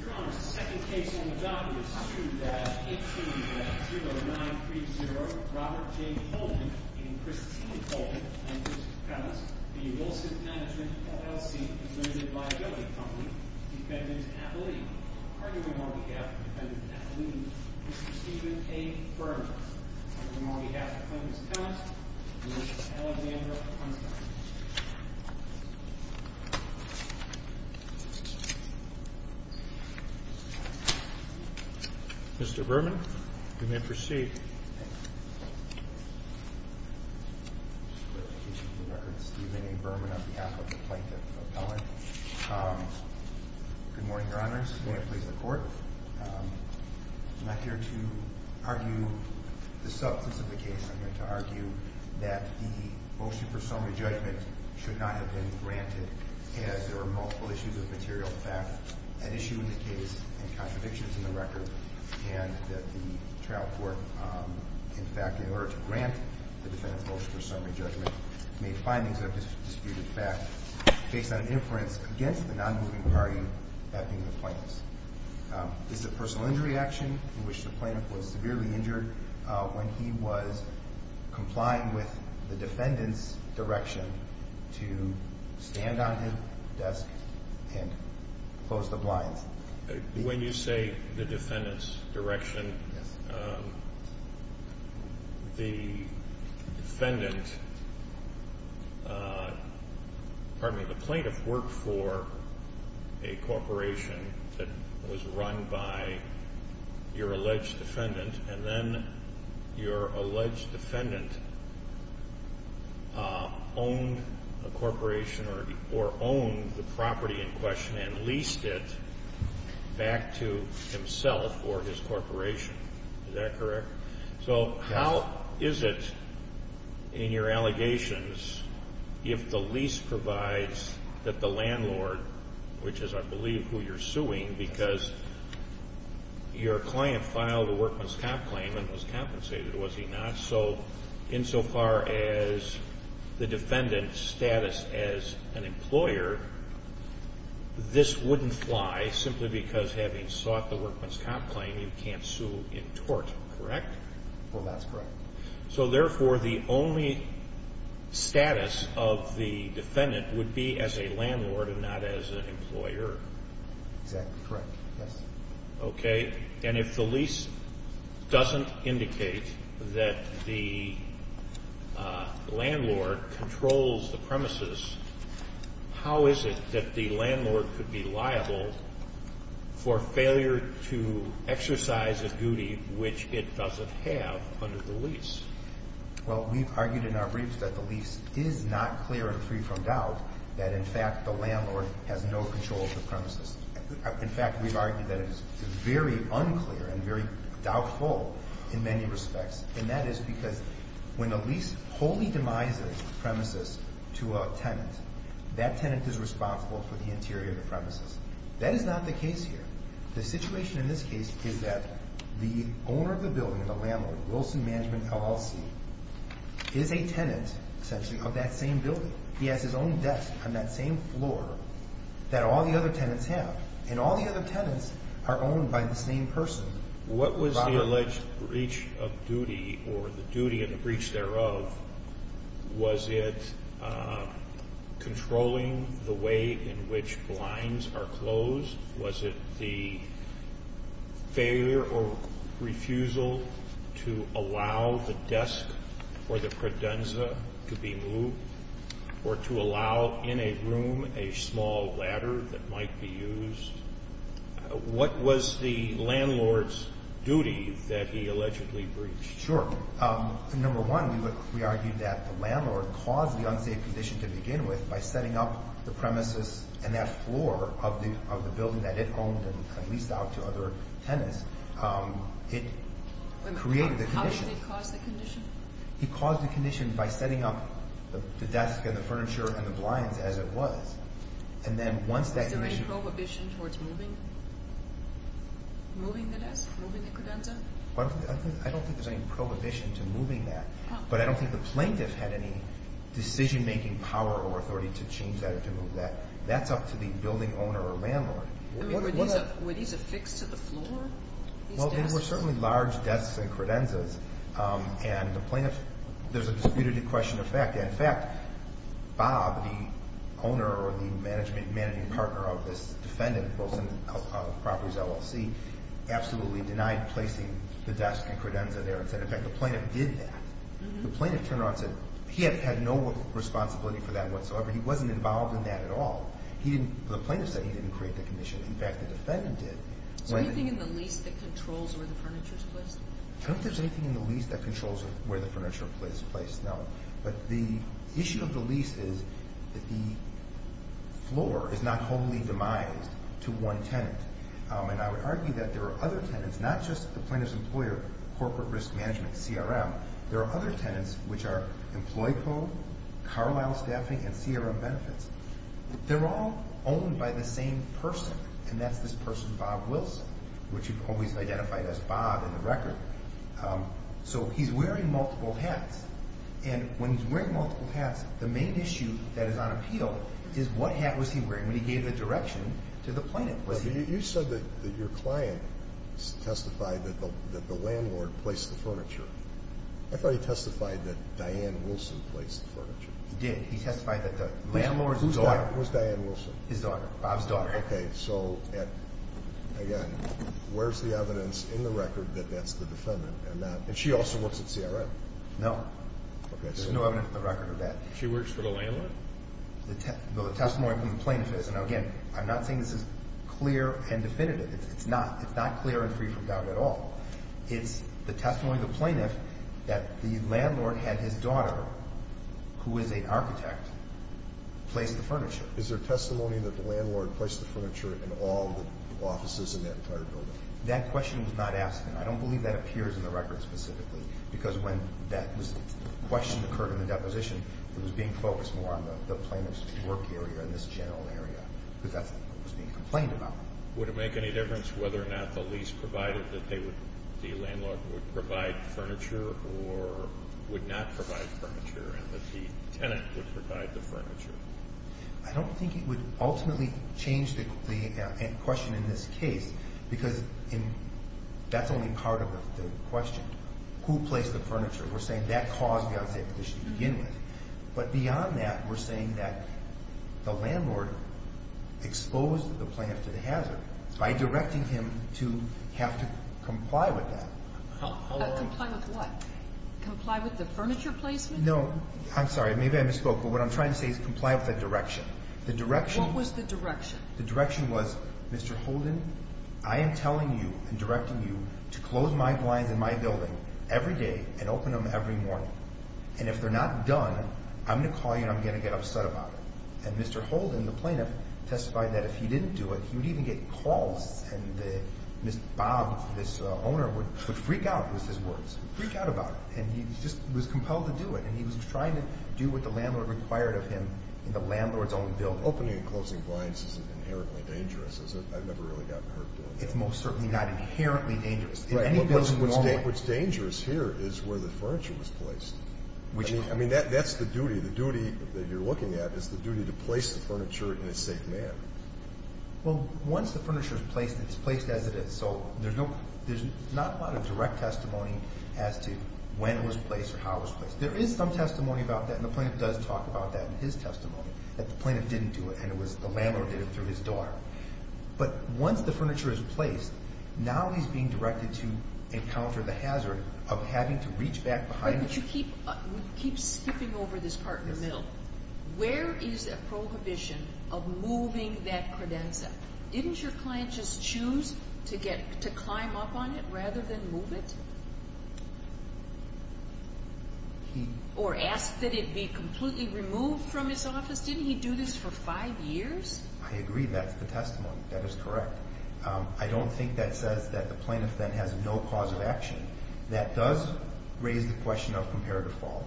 Your Honor, the second case on the docket is Sued at 820930 Robert J. Holden v. Christine Holden v. Clemmons, P.S. v. Wilson Management, LLC, Limited Liability Company, Defendant Appellee. Arguing on behalf of Defendant Appellee, Mr. Stephen A. Berman. Arguing on behalf of Clemmons, P.S. Mr. Berman, you may proceed. Mr. Berman, on behalf of the Plaintiff Appellant. Good morning, Your Honors. May it please the Court. I'm not here to argue the substance of the case. I'm here to argue that the motion for summary judgment should not have been granted as there were multiple issues of material theft at issue in the case and contradictions in the record. And that the trial court, in fact, in order to grant the Defendant's motion for summary judgment, made findings that have disputed fact based on inference against the non-moving party, that being the Plaintiff's. Is it personal injury action in which the Plaintiff was severely injured when he was complying with the Defendant's direction to stand on his desk and close the blinds? When you say the Defendant's direction, the defendant, pardon me, the Plaintiff worked for a corporation that was run by your alleged defendant, and then your alleged defendant owned a corporation or owned the property in question and leased it back to himself or his corporation. Is that correct? So how is it in your allegations if the lease provides that the landlord, which is I believe who you're suing, because your client filed a workman's comp claim and was compensated, was he not? So insofar as the Defendant's status as an employer, this wouldn't fly simply because having sought the workman's comp claim, you can't sue in tort, correct? Well, that's correct. So therefore, the only status of the Defendant would be as a landlord and not as an employer? Exactly correct, yes. Okay. And if the lease doesn't indicate that the landlord controls the premises, how is it that the landlord could be liable for failure to exercise a duty which it doesn't have under the lease? Well, we've argued in our briefs that the lease is not clear and free from doubt that in fact the landlord has no control of the premises. In fact, we've argued that it is very unclear and very doubtful in many respects. And that is because when a lease wholly demises a premises to a tenant, that tenant is responsible for the interior of the premises. That is not the case here. The situation in this case is that the owner of the building, the landlord, Wilson Management LLC, is a tenant essentially of that same building. He has his own desk on that same floor that all the other tenants have. And all the other tenants are owned by the same person. What was the alleged breach of duty or the duty and the breach thereof? Was it controlling the way in which blinds are closed? Was it the failure or refusal to allow the desk or the credenza to be moved? Or to allow in a room a small ladder that might be used? What was the landlord's duty that he allegedly breached? Sure. Number one, we argued that the landlord caused the unsafe condition to begin with by setting up the premises and that floor of the building that it owned and leased out to other tenants. It created the condition. How did he cause the condition? He caused the condition by setting up the desk and the furniture and the blinds as it was. And then once that condition... Was there any prohibition towards moving the desk, moving the credenza? I don't think there's any prohibition to moving that. But I don't think the plaintiff had any decision-making power or authority to change that or to move that. That's up to the building owner or landlord. Were these affixed to the floor? Well, they were certainly large desks and credenzas. And the plaintiff... There's a disputed question of fact. In fact, Bob, the owner or the managing partner of this defendant, Wilson of Properties, LLC, absolutely denied placing the desk and credenza there. In fact, the plaintiff did that. The plaintiff turned around and said he had no responsibility for that whatsoever. He wasn't involved in that at all. The plaintiff said he didn't create the condition. In fact, the defendant did. Is there anything in the lease that controls where the furniture is placed? I don't think there's anything in the lease that controls where the furniture is placed, no. But the issue of the lease is that the floor is not wholly demised to one tenant. And I would argue that there are other tenants, not just the plaintiff's employer, Corporate Risk Management, CRM. There are other tenants, which are EmployPro, Carlisle Staffing, and CRM Benefits. They're all owned by the same person, and that's this person, Bob Wilson, which you've always identified as Bob in the record. So he's wearing multiple hats. And when he's wearing multiple hats, the main issue that is on appeal is what hat was he wearing when he gave the direction to the plaintiff? You said that your client testified that the landlord placed the furniture. I thought he testified that Diane Wilson placed the furniture. He did. He testified that the landlord's daughter. Whose daughter? Who's Diane Wilson? His daughter. Bob's daughter. Okay. So, again, where's the evidence in the record that that's the defendant? And she also works at CRM. No. There's no evidence in the record of that. She works for the landlord? The testimony from the plaintiff is. And again, I'm not saying this is clear and definitive. It's not. It's not clear and free from doubt at all. It's the testimony of the plaintiff that the landlord had his daughter, who is an architect, place the furniture. Is there testimony that the landlord placed the furniture in all the offices in that entire building? That question was not asked, and I don't believe that appears in the record specifically, because when that question occurred in the deposition, it was being focused more on the plaintiff's work area and this general area, because that's what was being complained about. Would it make any difference whether or not the lease provided that the landlord would provide furniture or would not provide furniture and that the tenant would provide the furniture? I don't think it would ultimately change the question in this case, because that's only part of the question. Who placed the furniture? We're saying that caused the unsafe condition to begin with. But beyond that, we're saying that the landlord exposed the plaintiff to the hazard by directing him to have to comply with that. Comply with what? Comply with the furniture placement? No. I'm sorry. Maybe I misspoke, but what I'm trying to say is comply with the direction. What was the direction? The direction was, Mr. Holden, I am telling you and directing you to close my blinds in my building every day and open them every morning. And if they're not done, I'm going to call you and I'm going to get upset about it. And Mr. Holden, the plaintiff, testified that if he didn't do it, he would even get calls, and Mr. Bob, this owner, would freak out with his words. Freak out about it. And he just was compelled to do it, and he was trying to do what the landlord required of him in the landlord's own building. Opening and closing blinds isn't inherently dangerous, is it? I've never really gotten hurt doing that. It's most certainly not inherently dangerous. Right. What's dangerous here is where the furniture was placed. I mean, that's the duty. The duty that you're looking at is the duty to place the furniture in a safe manner. Well, once the furniture is placed, it's placed as it is, so there's not a lot of direct testimony as to when it was placed or how it was placed. There is some testimony about that, and the plaintiff does talk about that in his testimony, that the plaintiff didn't do it and it was the landlord that did it through his daughter. But once the furniture is placed, now he's being directed to encounter the hazard of having to reach back behind. But you keep skipping over this part in the middle. Where is a prohibition of moving that credenza? Didn't your client just choose to climb up on it rather than move it? Or ask that it be completely removed from his office? Didn't he do this for five years? I agree. That's the testimony. That is correct. I don't think that says that the plaintiff then has no cause of action. That does raise the question of comparative fault.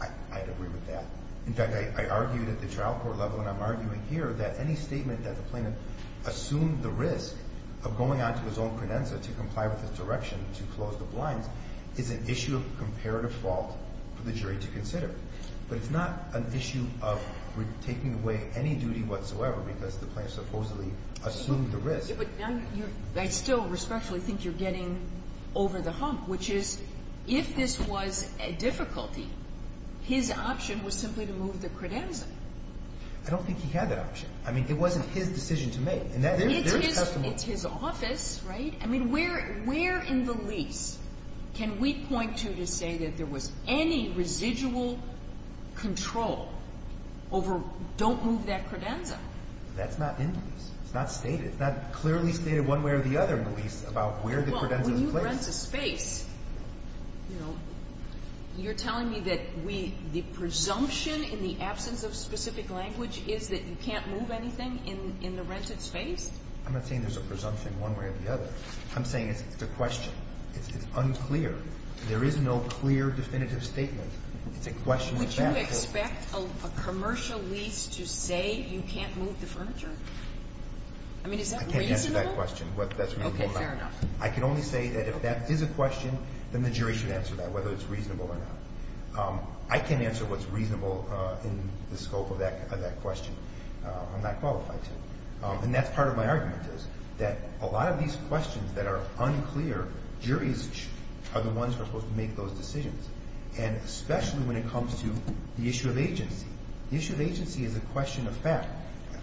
I'd agree with that. In fact, I argued at the trial court level, and I'm arguing here, that any statement that the plaintiff assumed the risk of going on to his own credenza to comply with his direction to close the blinds is an issue of comparative fault for the jury to consider. But it's not an issue of taking away any duty whatsoever because the plaintiff supposedly assumed the risk. I still respectfully think you're getting over the hump, which is if this was a difficulty, his option was simply to move the credenza. I don't think he had that option. I mean, it wasn't his decision to make. It's his office, right? I mean, where in the lease can we point to to say that there was any residual control over don't move that credenza? That's not in the lease. It's not stated. It's not clearly stated one way or the other in the lease about where the credenza is placed. You're telling me that the presumption in the absence of specific language is that you can't move anything in the rented space? I'm not saying there's a presumption one way or the other. I'm saying it's a question. It's unclear. There is no clear definitive statement. It's a question of fact. Would you expect a commercial lease to say you can't move the furniture? I mean, is that reasonable? I can't answer that question. Okay. Fair enough. I can only say that if that is a question, then the jury should answer that, whether it's reasonable or not. I can't answer what's reasonable in the scope of that question. I'm not qualified to. And that's part of my argument is that a lot of these questions that are unclear, juries are the ones who are supposed to make those decisions, and especially when it comes to the issue of agency. The issue of agency is a question of fact.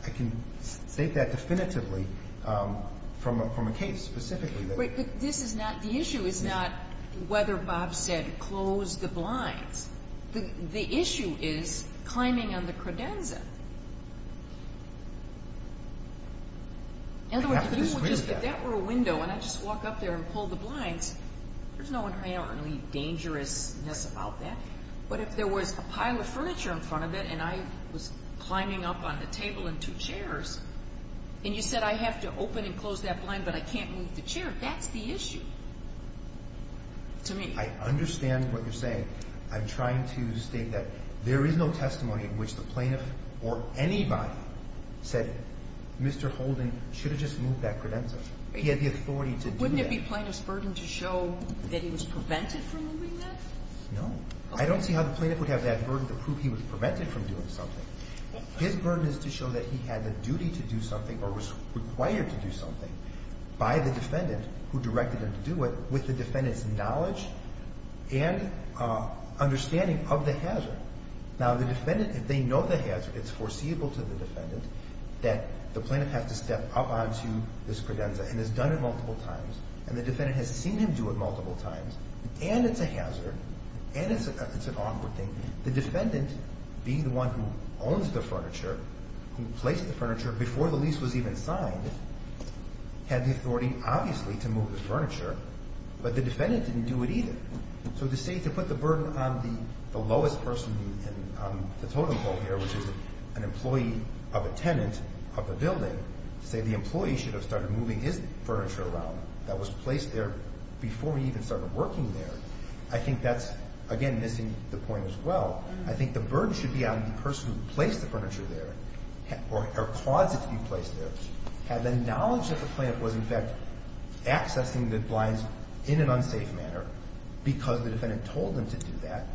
I can state that definitively from a case specifically. But this is not the issue is not whether Bob said close the blinds. The issue is climbing on the credenza. In other words, if that were a window and I just walk up there and pull the blinds, there's no inherently dangerousness about that. But if there was a pile of furniture in front of it and I was climbing up on the table in two chairs, and you said I have to open and close that blind, but I can't move the chair, that's the issue to me. I understand what you're saying. I'm trying to state that there is no testimony in which the plaintiff or anybody said, Mr. Holden should have just moved that credenza. He had the authority to do that. Wouldn't it be plaintiff's burden to show that he was prevented from moving that? No. I don't see how the plaintiff would have that burden to prove he was prevented from doing something. His burden is to show that he had the duty to do something or was required to do something by the defendant who directed him to do it with the defendant's knowledge and understanding of the hazard. Now, the defendant, if they know the hazard, it's foreseeable to the defendant that the plaintiff has to step up onto this credenza and has done it multiple times and the defendant has seen him do it multiple times and it's a hazard and it's an awkward thing. The defendant, being the one who owns the furniture, who placed the furniture before the lease was even signed, had the authority obviously to move the furniture, but the defendant didn't do it either. So to say to put the burden on the lowest person on the totem pole here, which is an employee of a tenant of the building, to say the employee should have started moving his furniture around that was placed there before he even started working there, I think that's, again, missing the point as well. I think the burden should be on the person who placed the furniture there or caused it to be placed there, had the knowledge that the plant was, in fact, accessing the blinds in an unsafe manner because the defendant told them to do that,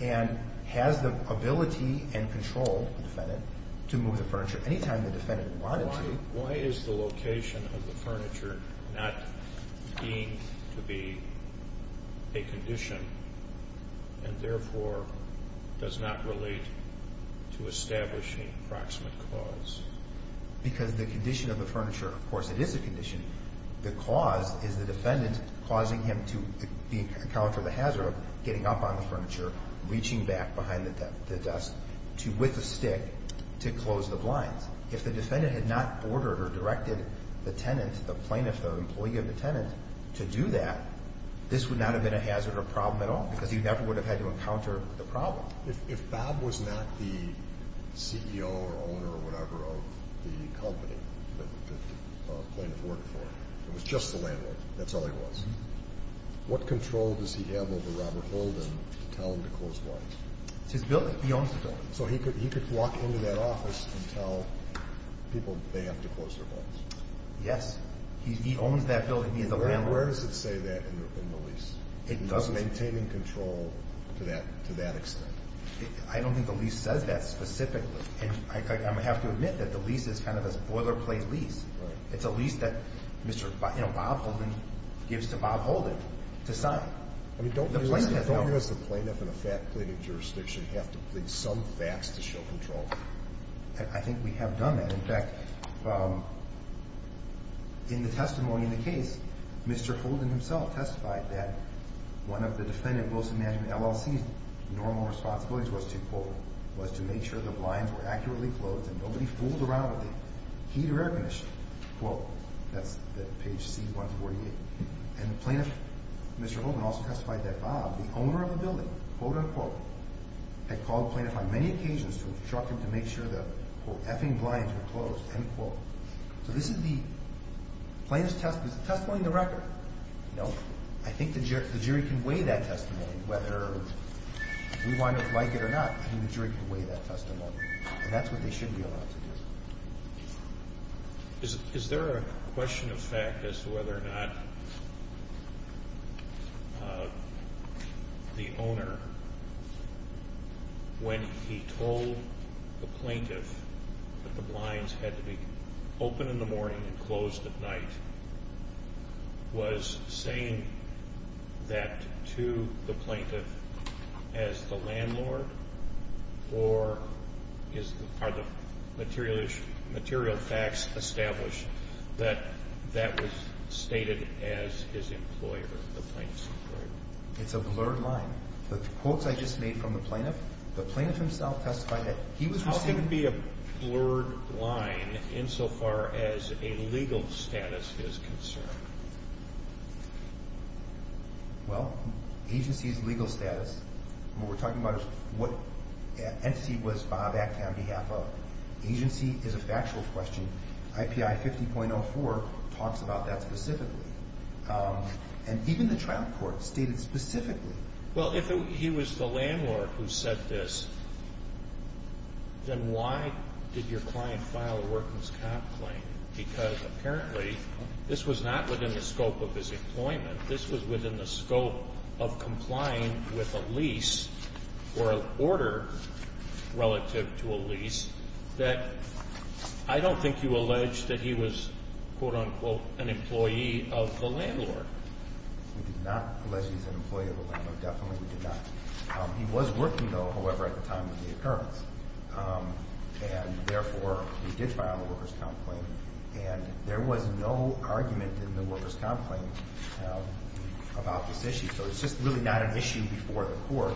and has the ability and control, the defendant, to move the furniture any time the defendant wanted to. Why is the location of the furniture not deemed to be a condition and therefore does not relate to establishing approximate cause? Because the condition of the furniture, of course, it is a condition. The cause is the defendant causing him to encounter the hazard of getting up on the furniture, reaching back behind the desk with a stick to close the blinds. If the defendant had not ordered or directed the tenant, the plaintiff, the employee of the tenant, to do that, this would not have been a hazard or problem at all because he never would have had to encounter the problem. If Bob was not the CEO or owner or whatever of the company that the plaintiff worked for, it was just the landlord, that's all he was, what control does he have over Robert Holden to tell him to close the blinds? It's his building. He owns the building. So he could walk into that office and tell people they have to close their blinds? Yes. He owns that building. He is the landlord. And where does it say that in the lease? It doesn't. Maintaining control to that extent? I don't think the lease says that specifically. And I have to admit that the lease is kind of a boilerplate lease. It's a lease that Mr. Bob Holden gives to Bob Holden to sign. I mean, don't you, as a plaintiff in a fat pleading jurisdiction, have to plead some facts to show control? I think we have done that. In fact, in the testimony in the case, Mr. Holden himself testified that one of the defendant Wilson Management LLC's normal responsibilities was to, quote, was to make sure the blinds were accurately closed and nobody fooled around with the heat or air conditioning, quote. That's page C148. And the plaintiff, Mr. Holden, also testified that Bob, the owner of the building, quote, unquote, had called the plaintiff on many occasions to instruct him to make sure the, quote, effing blinds were closed, end quote. So this is the plaintiff's testimony. Is the testimony in the record? No. I think the jury can weigh that testimony, whether we like it or not. I think the jury can weigh that testimony. And that's what they should be allowed to do. Is there a question of fact as to whether or not the owner, when he told the plaintiff that the blinds had to be open in the morning and closed at night, was saying that to the plaintiff as the landlord? Or are the material facts established that that was stated as his employer, the plaintiff's employer? It's a blurred line. The quotes I just made from the plaintiff, the plaintiff himself testified that he was receiving. It can be a blurred line insofar as a legal status is concerned. Well, agency's legal status, what we're talking about is what entity was Bob acted on behalf of. Agency is a factual question. IPI 50.04 talks about that specifically. And even the trial court stated specifically. Well, if he was the landlord who said this, then why did your client file a workers' comp claim? Because apparently this was not within the scope of his employment. This was within the scope of complying with a lease or an order relative to a lease that I don't think you allege that he was, quote, unquote, an employee of the landlord. We did not allege he was an employee of the landlord. Definitely we did not. He was working, though, however, at the time of the occurrence. And therefore, he did file a workers' comp claim. And there was no argument in the workers' comp claim about this issue. So it's just really not an issue before the court.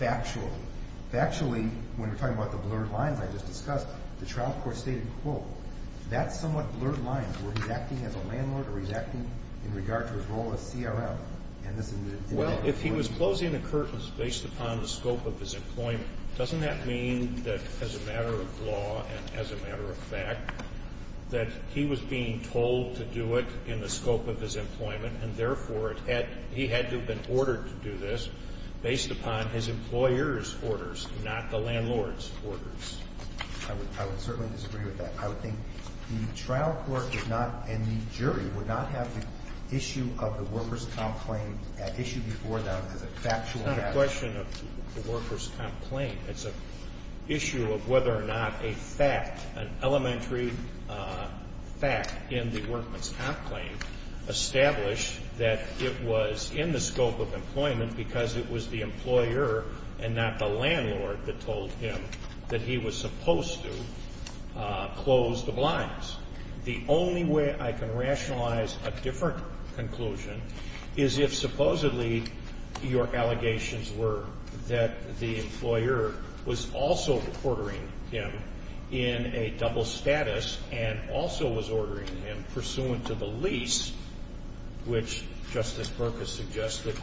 Factually, when we're talking about the blurred lines I just discussed, the trial court stated, quote, that's somewhat blurred lines. Were he acting as a landlord or was he acting in regard to his role as CRM? Well, if he was closing the curtains based upon the scope of his employment, doesn't that mean that as a matter of law and as a matter of fact that he was being told to do it in the scope of his employment and, therefore, he had to have been ordered to do this based upon his employer's orders, not the landlord's orders? I would certainly disagree with that. I would think the trial court did not and the jury would not have the issue of the workers' comp claim issued before them as a factual matter. It's not a question of the workers' comp claim. It's an issue of whether or not a fact, an elementary fact in the workmen's comp claim, established that it was in the scope of employment because it was the employer and not the landlord that told him that he was supposed to close the blinds. The only way I can rationalize a different conclusion is if supposedly your allegations were that the employer was also ordering him in a double status and also was ordering him pursuant to the lease, which Justice Berkus suggested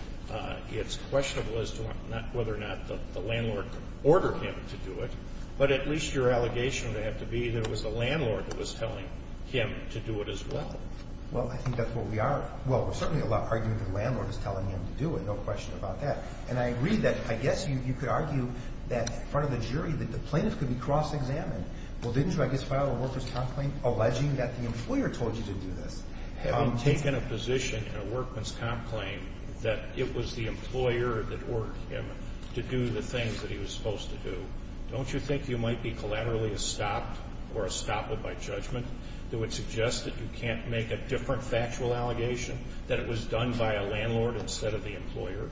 it's questionable as to whether or not the landlord ordered him to do it, but at least your allegation would have to be that it was the landlord that was telling him to do it as well. Well, I think that's what we are. Well, we're certainly arguing that the landlord is telling him to do it, no question about that. And I agree that I guess you could argue that in front of the jury that the plaintiff could be cross-examined. Well, didn't you, I guess, file a workers' comp claim alleging that the employer told you to do this? Having taken a position in a workers' comp claim that it was the employer that ordered him to do the things that he was supposed to do, don't you think you might be collaterally estopped or estopped by judgment that would suggest that you can't make a different factual allegation, that it was done by a landlord instead of the employer?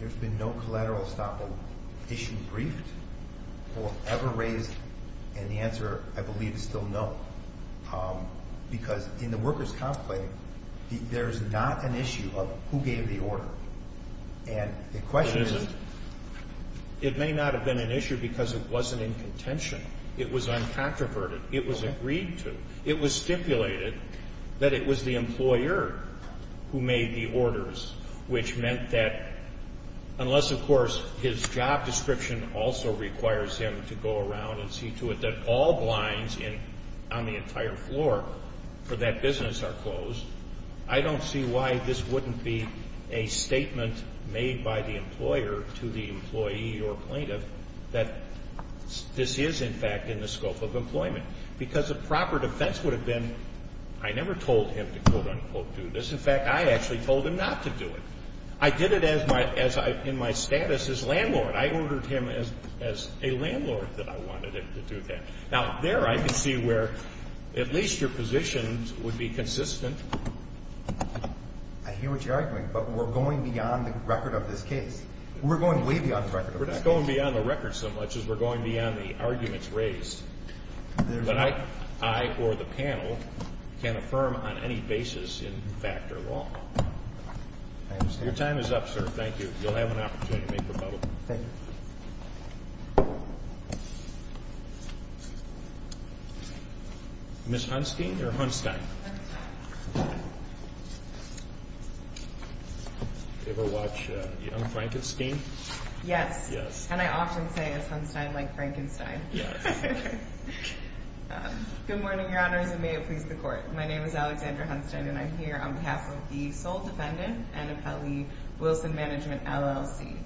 There's been no collateral estoppel issue briefed or ever raised, and the answer, I believe, is still no. Because in the workers' comp claim, there's not an issue of who gave the order. And the question is... It may not have been an issue because it wasn't in contention. It was uncontroverted. It was agreed to. It was stipulated that it was the employer who made the orders, which meant that unless, of course, his job description also requires him to go around and see to it that all blinds on the entire floor for that business are closed, I don't see why this wouldn't be a statement made by the employer to the employee or plaintiff that this is, in fact, in the scope of employment. Because the proper defense would have been I never told him to, quote-unquote, do this. In fact, I actually told him not to do it. I did it in my status as landlord. I ordered him as a landlord that I wanted him to do that. Now, there I could see where at least your positions would be consistent. I hear what you're arguing, but we're going beyond the record of this case. We're going way beyond the record of this case. We're not going beyond the record so much as we're going beyond the arguments raised. But I or the panel can affirm on any basis in fact or law. I understand. Your time is up, sir. Thank you. You'll have an opportunity to make rebuttal. Thank you. Ms. Hunstein or Hunstein? Hunstein. Ever watch Young Frankenstein? Yes. Yes. And I often say it's Hunstein like Frankenstein. Yes. Good morning, Your Honors, and may it please the Court. My name is Alexandra Hunstein, and I'm here on behalf of the sole defendant, Anna Pelley, Wilson Management, LLC.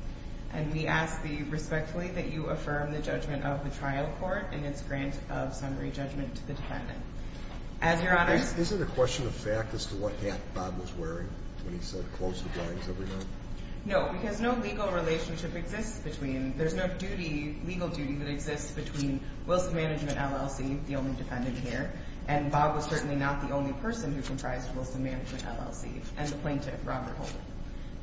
And we ask that you respectfully that you affirm the judgment of the trial court and its grant of summary judgment to the defendant. Is it a question of fact as to what hat Bob was wearing when he said close the blinds every night? No, because no legal relationship exists between – there's no duty, legal duty, that exists between Wilson Management, LLC, the only defendant here, and the plaintiff, Robert Holden.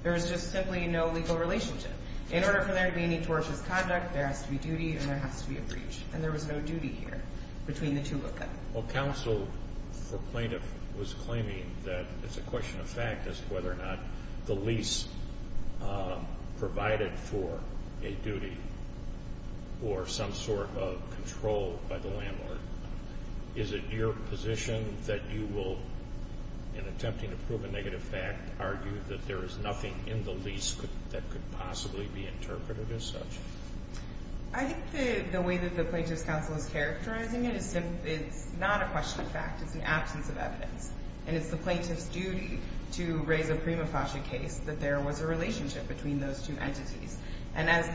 There is just simply no legal relationship. In order for there to be any tortious conduct, there has to be duty and there has to be a breach. And there was no duty here between the two of them. Well, counsel for plaintiff was claiming that it's a question of fact as to whether or not the lease provided for a duty or some sort of control by the landlord. Is it your position that you will, in attempting to prove a negative fact, argue that there is nothing in the lease that could possibly be interpreted as such? I think the way that the plaintiff's counsel is characterizing it is it's not a question of fact. It's an absence of evidence. And it's the plaintiff's duty to raise a prima facie case that there was a relationship between those two entities. And as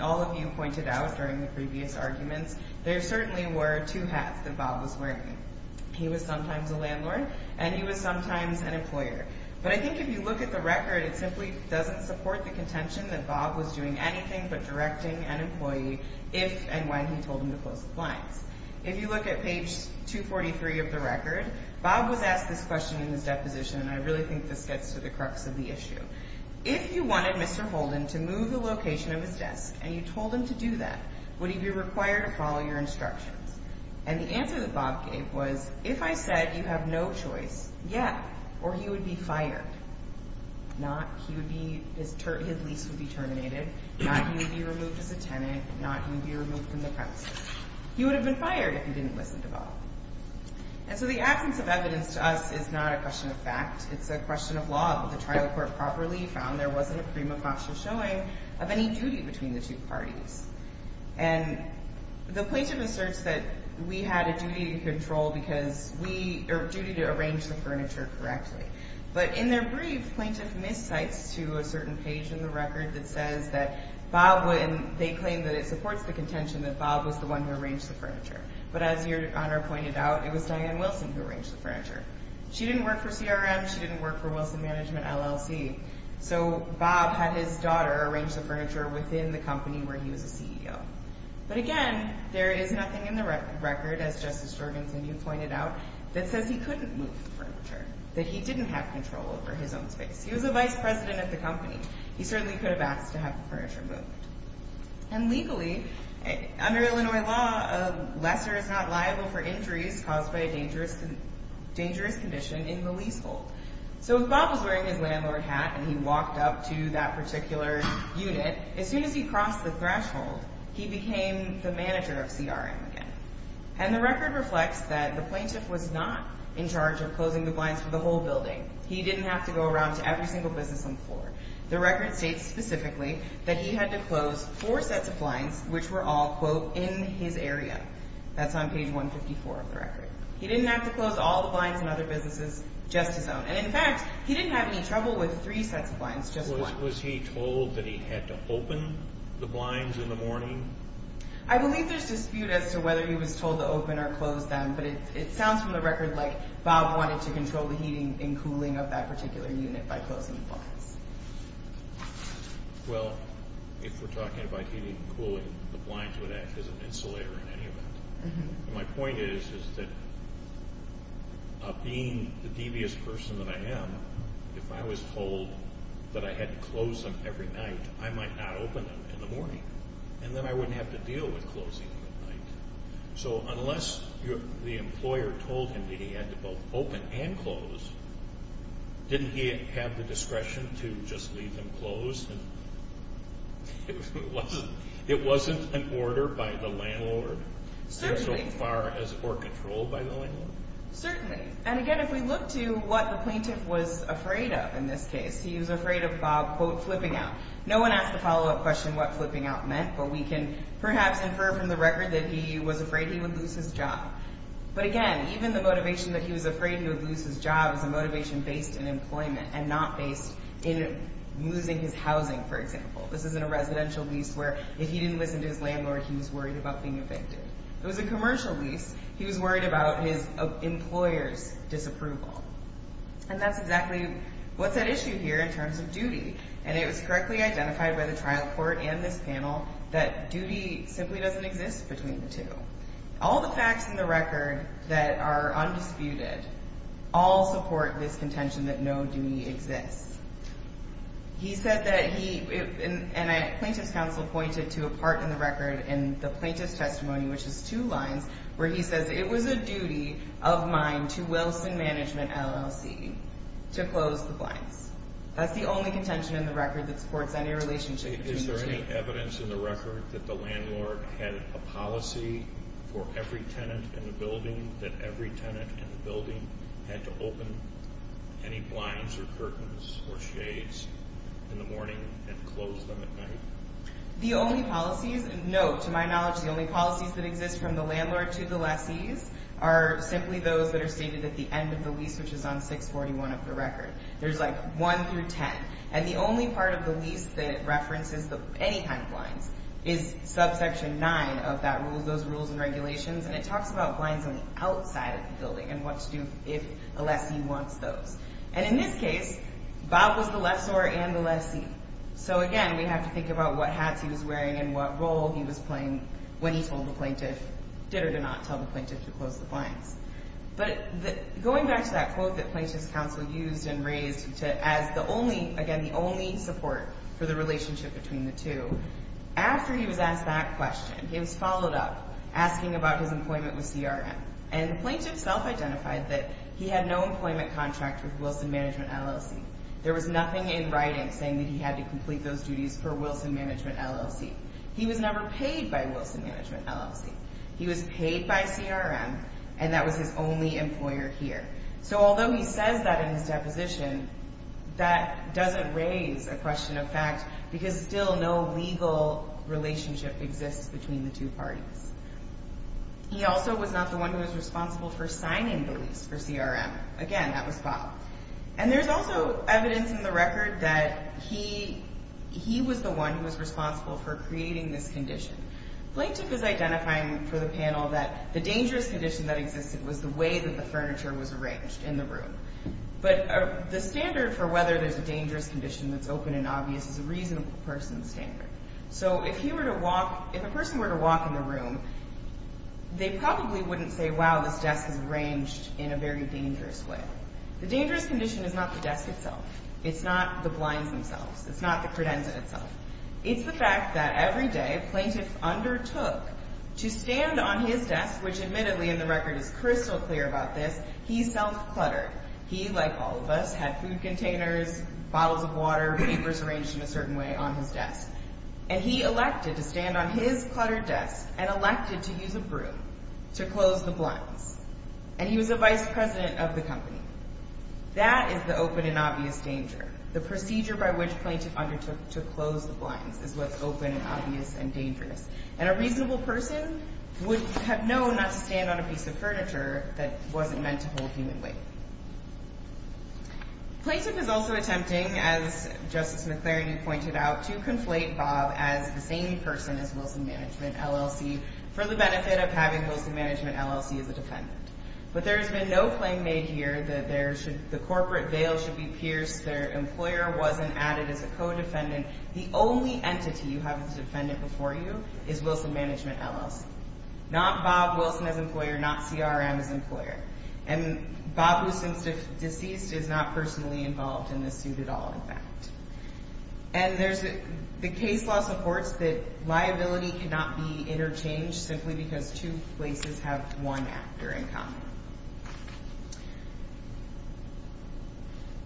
all of you pointed out during the previous arguments, there certainly were two hats that Bob was wearing. He was sometimes a landlord and he was sometimes an employer. But I think if you look at the record, it simply doesn't support the contention that Bob was doing anything but directing an employee if and when he told him to close the blinds. If you look at page 243 of the record, Bob was asked this question in his deposition, and I really think this gets to the crux of the issue. If you wanted Mr. Holden to move the location of his desk and you told him to do that, would he be required to follow your instructions? And the answer that Bob gave was, if I said you have no choice, yeah, or he would be fired. Not he would be his lease would be terminated. Not he would be removed as a tenant. Not he would be removed from the premises. He would have been fired if he didn't listen to Bob. And so the absence of evidence to us is not a question of fact. It's a question of law. But the trial court properly found there wasn't a prima facie showing of any duty between the two parties. And the plaintiff asserts that we had a duty to control because we are duty to arrange the furniture correctly. But in their brief, plaintiff miscites to a certain page in the record that says that Bob would and they claim that it supports the contention that Bob was the one who arranged the furniture. But as Your Honor pointed out, it was Diane Wilson who arranged the furniture. She didn't work for CRM. She didn't work for Wilson Management LLC. So Bob had his daughter arrange the furniture within the company where he was a CEO. But, again, there is nothing in the record, as Justice Jorgensen, you pointed out, that says he couldn't move the furniture, that he didn't have control over his own space. He was the vice president of the company. He certainly could have asked to have the furniture moved. And legally, under Illinois law, a lesser is not liable for injuries caused by a dangerous condition in the leasehold. So if Bob was wearing his landlord hat and he walked up to that particular unit, as soon as he crossed the threshold, he became the manager of CRM again. And the record reflects that the plaintiff was not in charge of closing the blinds for the whole building. He didn't have to go around to every single business on the floor. The record states specifically that he had to close four sets of blinds, which were all, quote, in his area. That's on page 154 of the record. He didn't have to close all the blinds in other businesses, just his own. And, in fact, he didn't have any trouble with three sets of blinds, just one. Was he told that he had to open the blinds in the morning? I believe there's dispute as to whether he was told to open or close them. But it sounds from the record like Bob wanted to control the heating and cooling of that particular unit by closing the blinds. Well, if we're talking about heating and cooling, the blinds would act as an insulator in any event. My point is that being the devious person that I am, if I was told that I had to close them every night, I might not open them in the morning. And then I wouldn't have to deal with closing them at night. So unless the employer told him that he had to both open and close, didn't he have the discretion to just leave them closed? It wasn't an order by the landlord? Certainly. Or control by the landlord? Certainly. And, again, if we look to what the plaintiff was afraid of in this case, he was afraid of, quote, flipping out. No one asked the follow-up question what flipping out meant, but we can perhaps infer from the record that he was afraid he would lose his job. But, again, even the motivation that he was afraid he would lose his job is a motivation based in employment and not based in losing his housing, for example. This isn't a residential lease where if he didn't listen to his landlord, he was worried about being evicted. It was a commercial lease. He was worried about his employer's disapproval. And that's exactly what's at issue here in terms of duty, and it was correctly identified by the trial court and this panel that duty simply doesn't exist between the two. All the facts in the record that are undisputed all support this contention that no duty exists. He said that he, and Plaintiff's Counsel pointed to a part in the record in the plaintiff's testimony, which is two lines, where he says, It was a duty of mine to Wilson Management LLC to close the blinds. That's the only contention in the record that supports any relationship between the two. Is there any evidence in the record that the landlord had a policy for every tenant in the building that every tenant in the building had to open any blinds or curtains or shades in the morning and close them at night? The only policies, no, to my knowledge, the only policies that exist from the landlord to the lessees are simply those that are stated at the end of the lease, which is on 641 of the record. There's like one through ten, and the only part of the lease that references any kind of blinds is subsection nine of that rule, those rules and regulations, and it talks about blinds on the outside of the building and what to do if a lessee wants those. And in this case, Bob was the lessor and the lessee. So again, we have to think about what hats he was wearing and what role he was playing when he told the plaintiff, did or did not tell the plaintiff to close the blinds. But going back to that quote that Plaintiff's Counsel used and raised as the only, again, the only support for the relationship between the two, after he was asked that question, he was followed up asking about his employment with CRM, and the plaintiff self-identified that he had no employment contract with Wilson Management LLC. There was nothing in writing saying that he had to complete those duties for Wilson Management LLC. He was never paid by Wilson Management LLC. He was paid by CRM, and that was his only employer here. So although he says that in his deposition, that doesn't raise a question of fact because still no legal relationship exists between the two parties. He also was not the one who was responsible for signing the lease for CRM. Again, that was Bob. And there's also evidence in the record that he was the one who was responsible for creating this condition. Plaintiff is identifying for the panel that the dangerous condition that existed was the way that the furniture was arranged in the room. But the standard for whether there's a dangerous condition that's open and obvious is a reasonable person's standard. So if a person were to walk in the room, they probably wouldn't say, wow, this desk is arranged in a very dangerous way. The dangerous condition is not the desk itself. It's not the blinds themselves. It's not the credenza itself. It's the fact that every day plaintiff undertook to stand on his desk, which admittedly in the record is crystal clear about this, he self-cluttered. He, like all of us, had food containers, bottles of water, papers arranged in a certain way on his desk. And he elected to stand on his cluttered desk and elected to use a broom to close the blinds. And he was a vice president of the company. That is the open and obvious danger, the procedure by which plaintiff undertook to close the blinds is what's open and obvious and dangerous. And a reasonable person would have known not to stand on a piece of furniture that wasn't meant to hold human weight. Plaintiff is also attempting, as Justice McLarity pointed out, to conflate Bob as the same person as Wilson Management LLC for the benefit of having Wilson Management LLC as a defendant. Their employer wasn't added as a co-defendant. The only entity you have as a defendant before you is Wilson Management LLC. Not Bob Wilson as employer, not CRM as employer. And Bob, who seems deceased, is not personally involved in this suit at all, in fact. And the case law supports that liability cannot be interchanged simply because two places have one actor in common.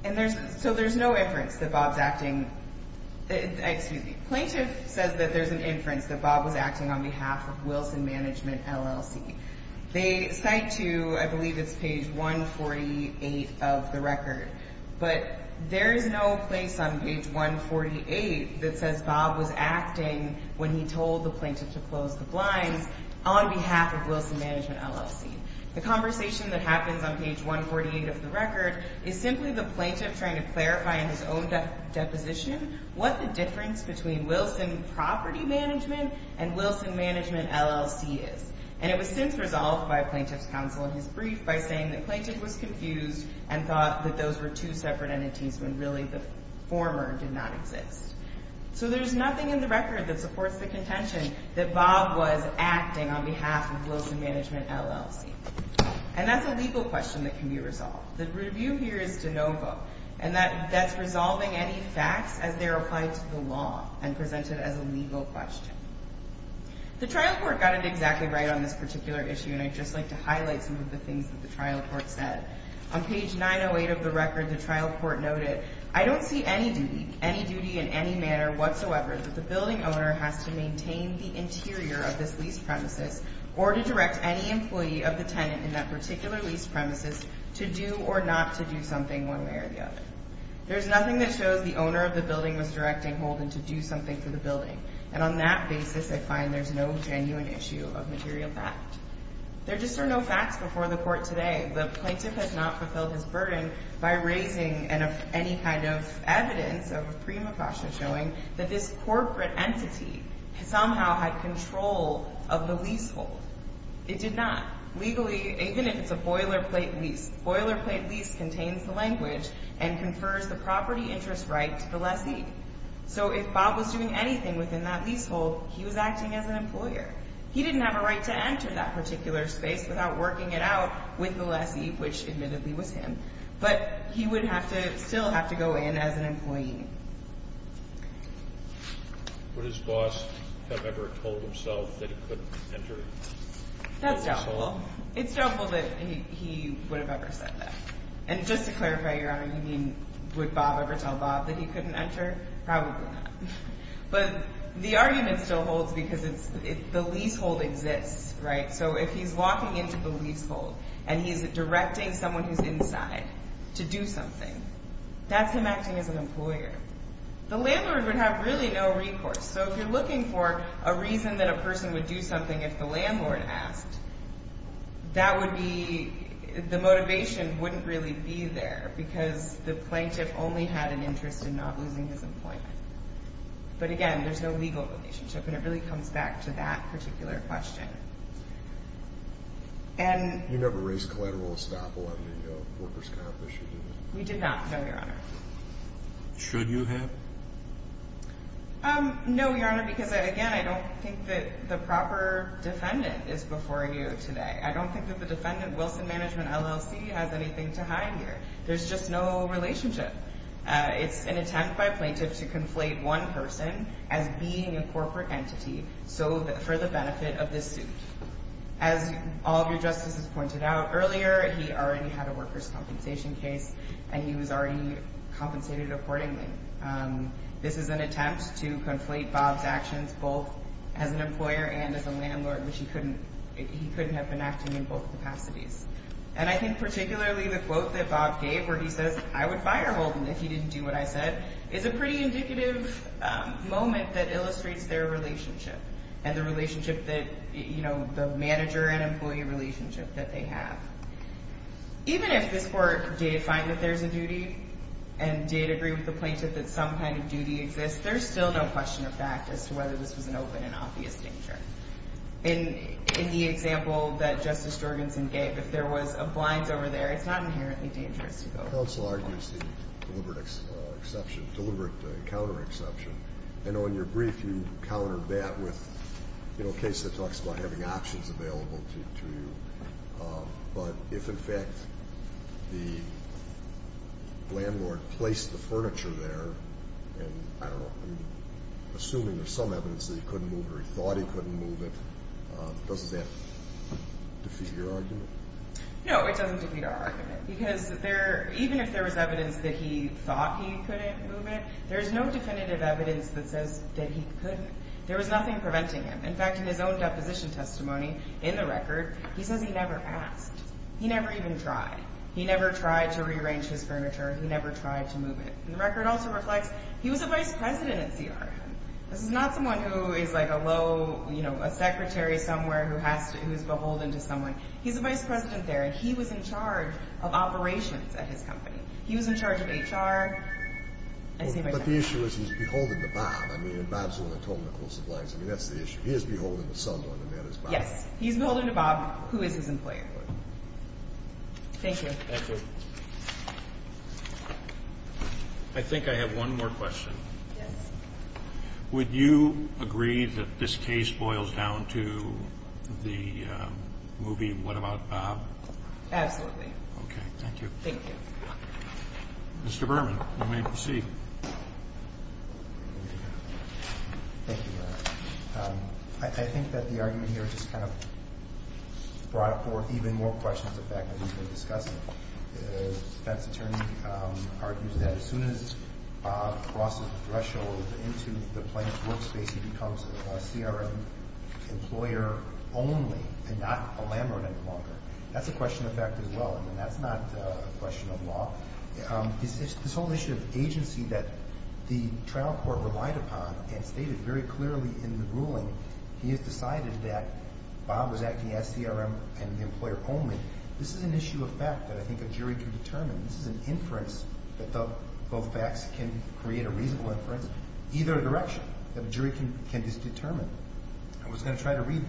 And there's, so there's no inference that Bob's acting, excuse me, plaintiff says that there's an inference that Bob was acting on behalf of Wilson Management LLC. They cite to, I believe it's page 148 of the record, but there is no place on page 148 that says Bob was acting when he told the plaintiff to close the blinds on behalf of Wilson Management LLC. The conversation that happens on page 148 of the record is simply the plaintiff trying to clarify in his own deposition what the difference between Wilson Property Management and Wilson Management LLC is. And it was since resolved by a plaintiff's counsel in his brief by saying that the plaintiff was confused and thought that those were two separate entities when really the former did not exist. So there's nothing in the record that supports the contention that Bob was acting on behalf of Wilson Management LLC. And that's a legal question that can be resolved. The review here is de novo, and that's resolving any facts as they're applied to the law and presented as a legal question. The trial court got it exactly right on this particular issue, and I'd just like to highlight some of the things that the trial court said. On page 908 of the record, the trial court noted, I don't see any duty, any duty in any manner whatsoever that the building owner has to maintain the interior of this lease premises or to direct any employee of the tenant in that particular lease premises to do or not to do something one way or the other. There's nothing that shows the owner of the building was directing Holden to do something for the building. And on that basis, I find there's no genuine issue of material fact. There just are no facts before the court today. The plaintiff has not fulfilled his burden by raising any kind of evidence of a premonition or also showing that this corporate entity somehow had control of the leasehold. It did not. Legally, even if it's a boilerplate lease, boilerplate lease contains the language and confers the property interest right to the lessee. So if Bob was doing anything within that leasehold, he was acting as an employer. He didn't have a right to enter that particular space without working it out with the lessee, which admittedly was him, but he would still have to go in as an employee. Would his boss have ever told himself that he couldn't enter? That's doubtful. It's doubtful that he would have ever said that. And just to clarify, Your Honor, you mean would Bob ever tell Bob that he couldn't enter? Probably not. But the argument still holds because the leasehold exists, right? So if he's walking into the leasehold and he's directing someone who's inside to do something, that's him acting as an employer. The landlord would have really no recourse. So if you're looking for a reason that a person would do something if the landlord asked, that would be the motivation wouldn't really be there because the plaintiff only had an interest in not losing his employment. But again, there's no legal relationship, and it really comes back to that particular question. You never raised collateral estoppel under the workers' compensation, did you? We did not, no, Your Honor. Should you have? No, Your Honor, because, again, I don't think that the proper defendant is before you today. I don't think that the defendant, Wilson Management, LLC, has anything to hide here. There's just no relationship. It's an attempt by a plaintiff to conflate one person as being a corporate entity for the benefit of this suit. As all of your justices pointed out earlier, he already had a workers' compensation case, and he was already compensated accordingly. This is an attempt to conflate Bob's actions both as an employer and as a landlord, which he couldn't have been acting in both capacities. And I think particularly the quote that Bob gave where he says, I would fire Holden if he didn't do what I said, is a pretty indicative moment that illustrates their relationship and the manager and employee relationship that they have. Even if this Court did find that there's a duty and did agree with the plaintiff that some kind of duty exists, there's still no question of fact as to whether this was an open and obvious danger. In the example that Justice Jorgensen gave, if there was a blinds over there, it's not inherently dangerous. Counsel argues the deliberate exception, deliberate encounter exception. I know in your brief you countered that with a case that talks about having options available to you. But if, in fact, the landlord placed the furniture there and, I don't know, assuming there's some evidence that he couldn't move it or he thought he couldn't move it, doesn't that defeat your argument? No, it doesn't defeat our argument because even if there was evidence that he thought he couldn't move it, there's no definitive evidence that says that he couldn't. There was nothing preventing him. In fact, in his own deposition testimony in the record, he says he never asked. He never even tried. He never tried to rearrange his furniture. He never tried to move it. The record also reflects he was a vice president at CRM. This is not someone who is like a low, you know, a secretary somewhere who's beholden to someone. He's a vice president there, and he was in charge of operations at his company. He was in charge of HR. But the issue is he's beholden to Bob. I mean, and Bob's the one who told him to close the blinds. I mean, that's the issue. He is beholden to someone, and that is Bob. Yes. He's beholden to Bob, who is his employer. Thank you. Thank you. I think I have one more question. Yes. Would you agree that this case boils down to the movie What About Bob? Absolutely. Okay. Thank you. Thank you. Mr. Berman, you may proceed. Thank you, Your Honor. I think that the argument here just kind of brought forth even more questions than the fact that we've been discussing. The defense attorney argues that as soon as Bob crosses the threshold into the plaintiff's workspace, he becomes a CRM employer only and not a Lambert employer. That's a question of fact as well. I mean, that's not a question of law. This whole issue of agency that the trial court relied upon and stated very clearly in the ruling, he has decided that Bob was acting as CRM and the employer only. This is an issue of fact that I think a jury can determine. This is an inference that both facts can create a reasonable inference either direction that a jury can determine. I was going to try to read.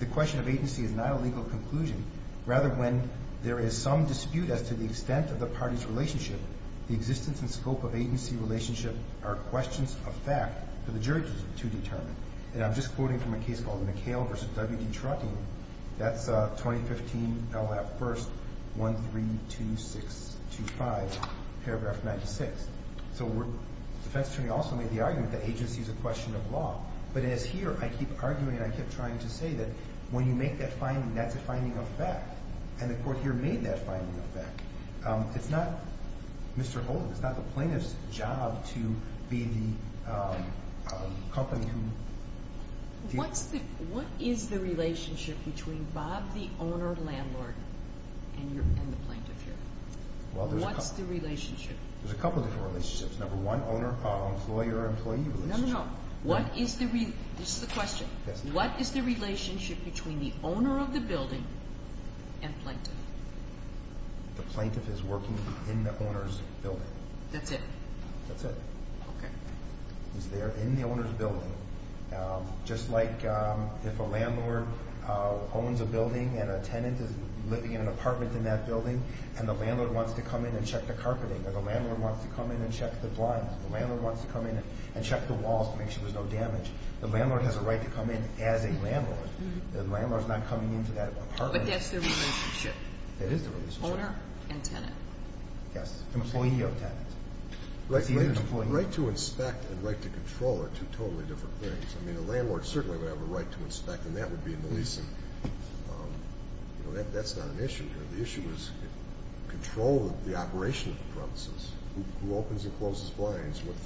The question of agency is not a legal conclusion. Rather, when there is some dispute as to the extent of the party's relationship, the existence and scope of agency relationship are questions of fact for the jury to determine. And I'm just quoting from a case called McHale v. W.D. Trutting. That's 2015 LAP 1st, 132625, paragraph 96. So the defense attorney also made the argument that agency is a question of law. But as here, I keep arguing and I keep trying to say that when you make that finding, that's a finding of fact. It's not, Mr. Holden, it's not the plaintiff's job to be the company who... What is the relationship between Bob the owner-landlord and the plaintiff here? What's the relationship? There's a couple of different relationships. Number one, owner-employer-employee relationship. No, no, no. This is the question. What is the relationship between the owner of the building and plaintiff? The plaintiff is working in the owner's building. That's it? That's it. Okay. He's there in the owner's building. Just like if a landlord owns a building and a tenant is living in an apartment in that building and the landlord wants to come in and check the carpeting, or the landlord wants to come in and check the blinds, the landlord wants to come in and check the walls to make sure there's no damage, the landlord has a right to come in as a landlord. The landlord's not coming into that apartment. But that's the relationship. That is the relationship. Owner and tenant. Yes. Employee or tenant. Right to inspect and right to control are two totally different things. I mean, a landlord certainly would have a right to inspect, and that would be in the leasing. That's not an issue here. The issue is control of the operation of the premises, who opens and closes blinds, what's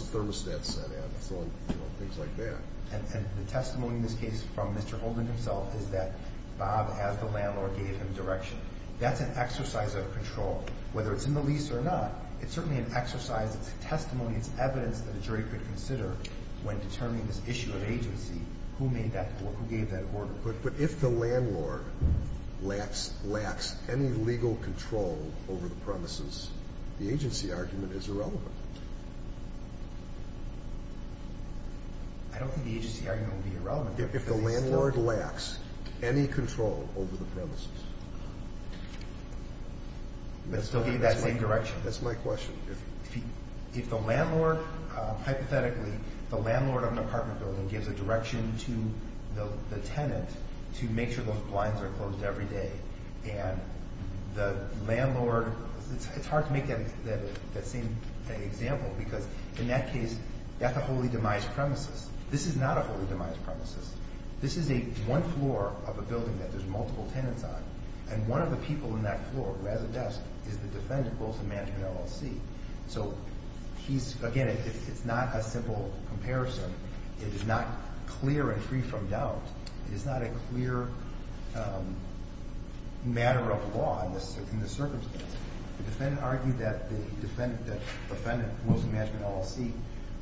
the thermostat set at, and things like that. And the testimony in this case from Mr. Holden himself is that Bob, as the landlord, gave him direction. That's an exercise of control. Whether it's in the lease or not, it's certainly an exercise. It's testimony. It's evidence that a jury could consider when determining this issue of agency, who gave that order. But if the landlord lacks any legal control over the premises, the agency argument is irrelevant. I don't think the agency argument would be irrelevant. If the landlord lacks any control over the premises. But still gave that same direction. That's my question. If the landlord, hypothetically, the landlord of an apartment building gives a direction to the tenant to make sure those blinds are closed every day, and the landlord, it's hard to make that same example, because in that case, that's a holy demise premises. This is not a holy demise premises. This is one floor of a building that there's multiple tenants on, and one of the people in that floor who has a desk is the defendant, both the manager and LLC. So, again, it's not a simple comparison. It is not clear and free from doubt. It is not a clear matter of law in this circumstance. The defendant argued that the defendant, mostly the manager and LLC,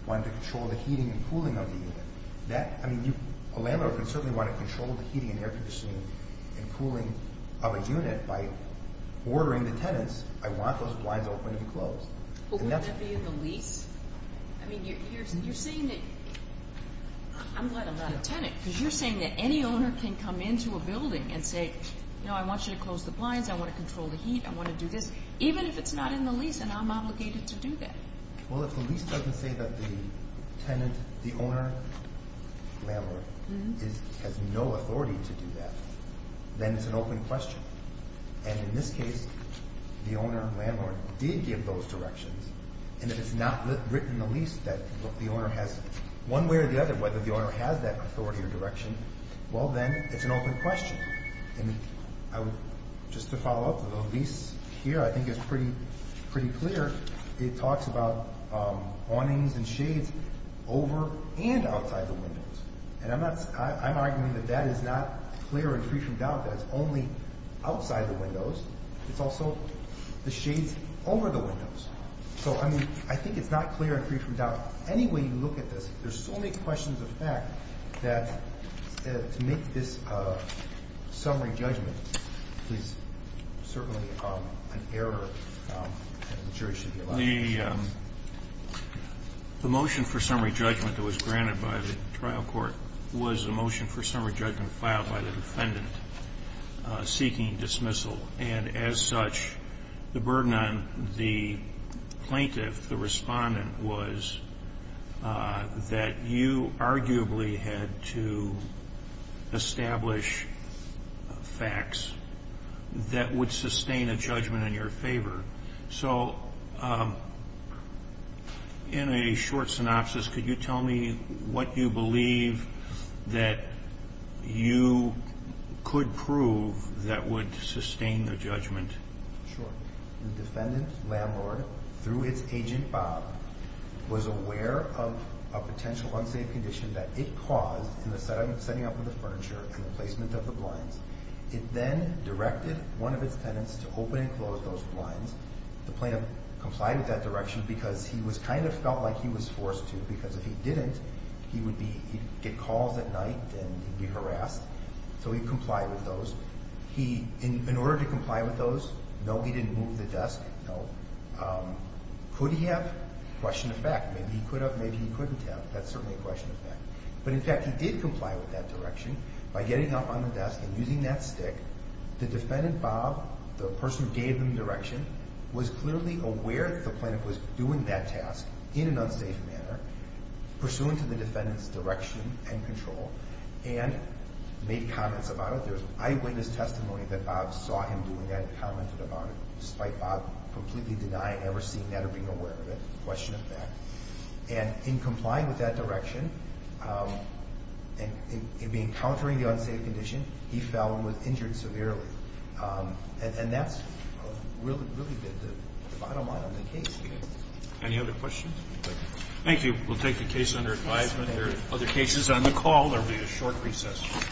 wanted to control the heating and cooling of the unit. A landlord would certainly want to control the heating and air conditioning and cooling of a unit by ordering the tenants, I want those blinds open and closed. But wouldn't that be in the lease? I mean, you're saying that, I'm glad I'm not a tenant, because you're saying that any owner can come into a building and say, no, I want you to close the blinds, I want to control the heat, I want to do this, even if it's not in the lease, and I'm obligated to do that. Well, if the lease doesn't say that the tenant, the owner, landlord, has no authority to do that, then it's an open question. And in this case, the owner and landlord did give those directions, and if it's not written in the lease that the owner has one way or the other, whether the owner has that authority or direction, well, then it's an open question. And I would, just to follow up, the lease here I think is pretty clear. It talks about awnings and shades over and outside the windows. And I'm arguing that that is not clear and free from doubt, that it's only outside the windows. It's also the shades over the windows. So, I mean, I think it's not clear and free from doubt. Any way you look at this, there's so many questions of fact that to make this summary judgment is certainly an error, and the jury should be elected. The motion for summary judgment that was granted by the trial court was a motion for summary judgment filed by the defendant seeking dismissal. And as such, the burden on the plaintiff, the respondent, was that you arguably had to establish facts that would sustain a judgment in your favor. So in a short synopsis, could you tell me what you believe that you could prove that would sustain a judgment? Sure. The defendant, landlord, through its agent, Bob, was aware of a potential unsafe condition that it caused in the setting up of the furniture and the placement of the blinds. It then directed one of its tenants to open and close those blinds. The plaintiff complied with that direction because he kind of felt like he was forced to, because if he didn't, he would get calls at night and be harassed. So he complied with those. In order to comply with those, no, he didn't move the desk, no. Could he have? Question of fact. Maybe he could have, maybe he couldn't have. That's certainly a question of fact. But in fact, he did comply with that direction by getting up on the desk and using that stick. The defendant, Bob, the person who gave him the direction, was clearly aware that the plaintiff was doing that task in an unsafe manner, pursuant to the defendant's direction and control, and made comments about it. There was eyewitness testimony that Bob saw him doing that and commented about it, despite Bob completely denying ever seeing that or being aware of it. Question of fact. And in complying with that direction, in countering the unsafe condition, he fell and was injured severely. And that's really been the bottom line of the case. Any other questions? Thank you. We'll take the case under advisement. There are other cases on the call. There will be a short recess.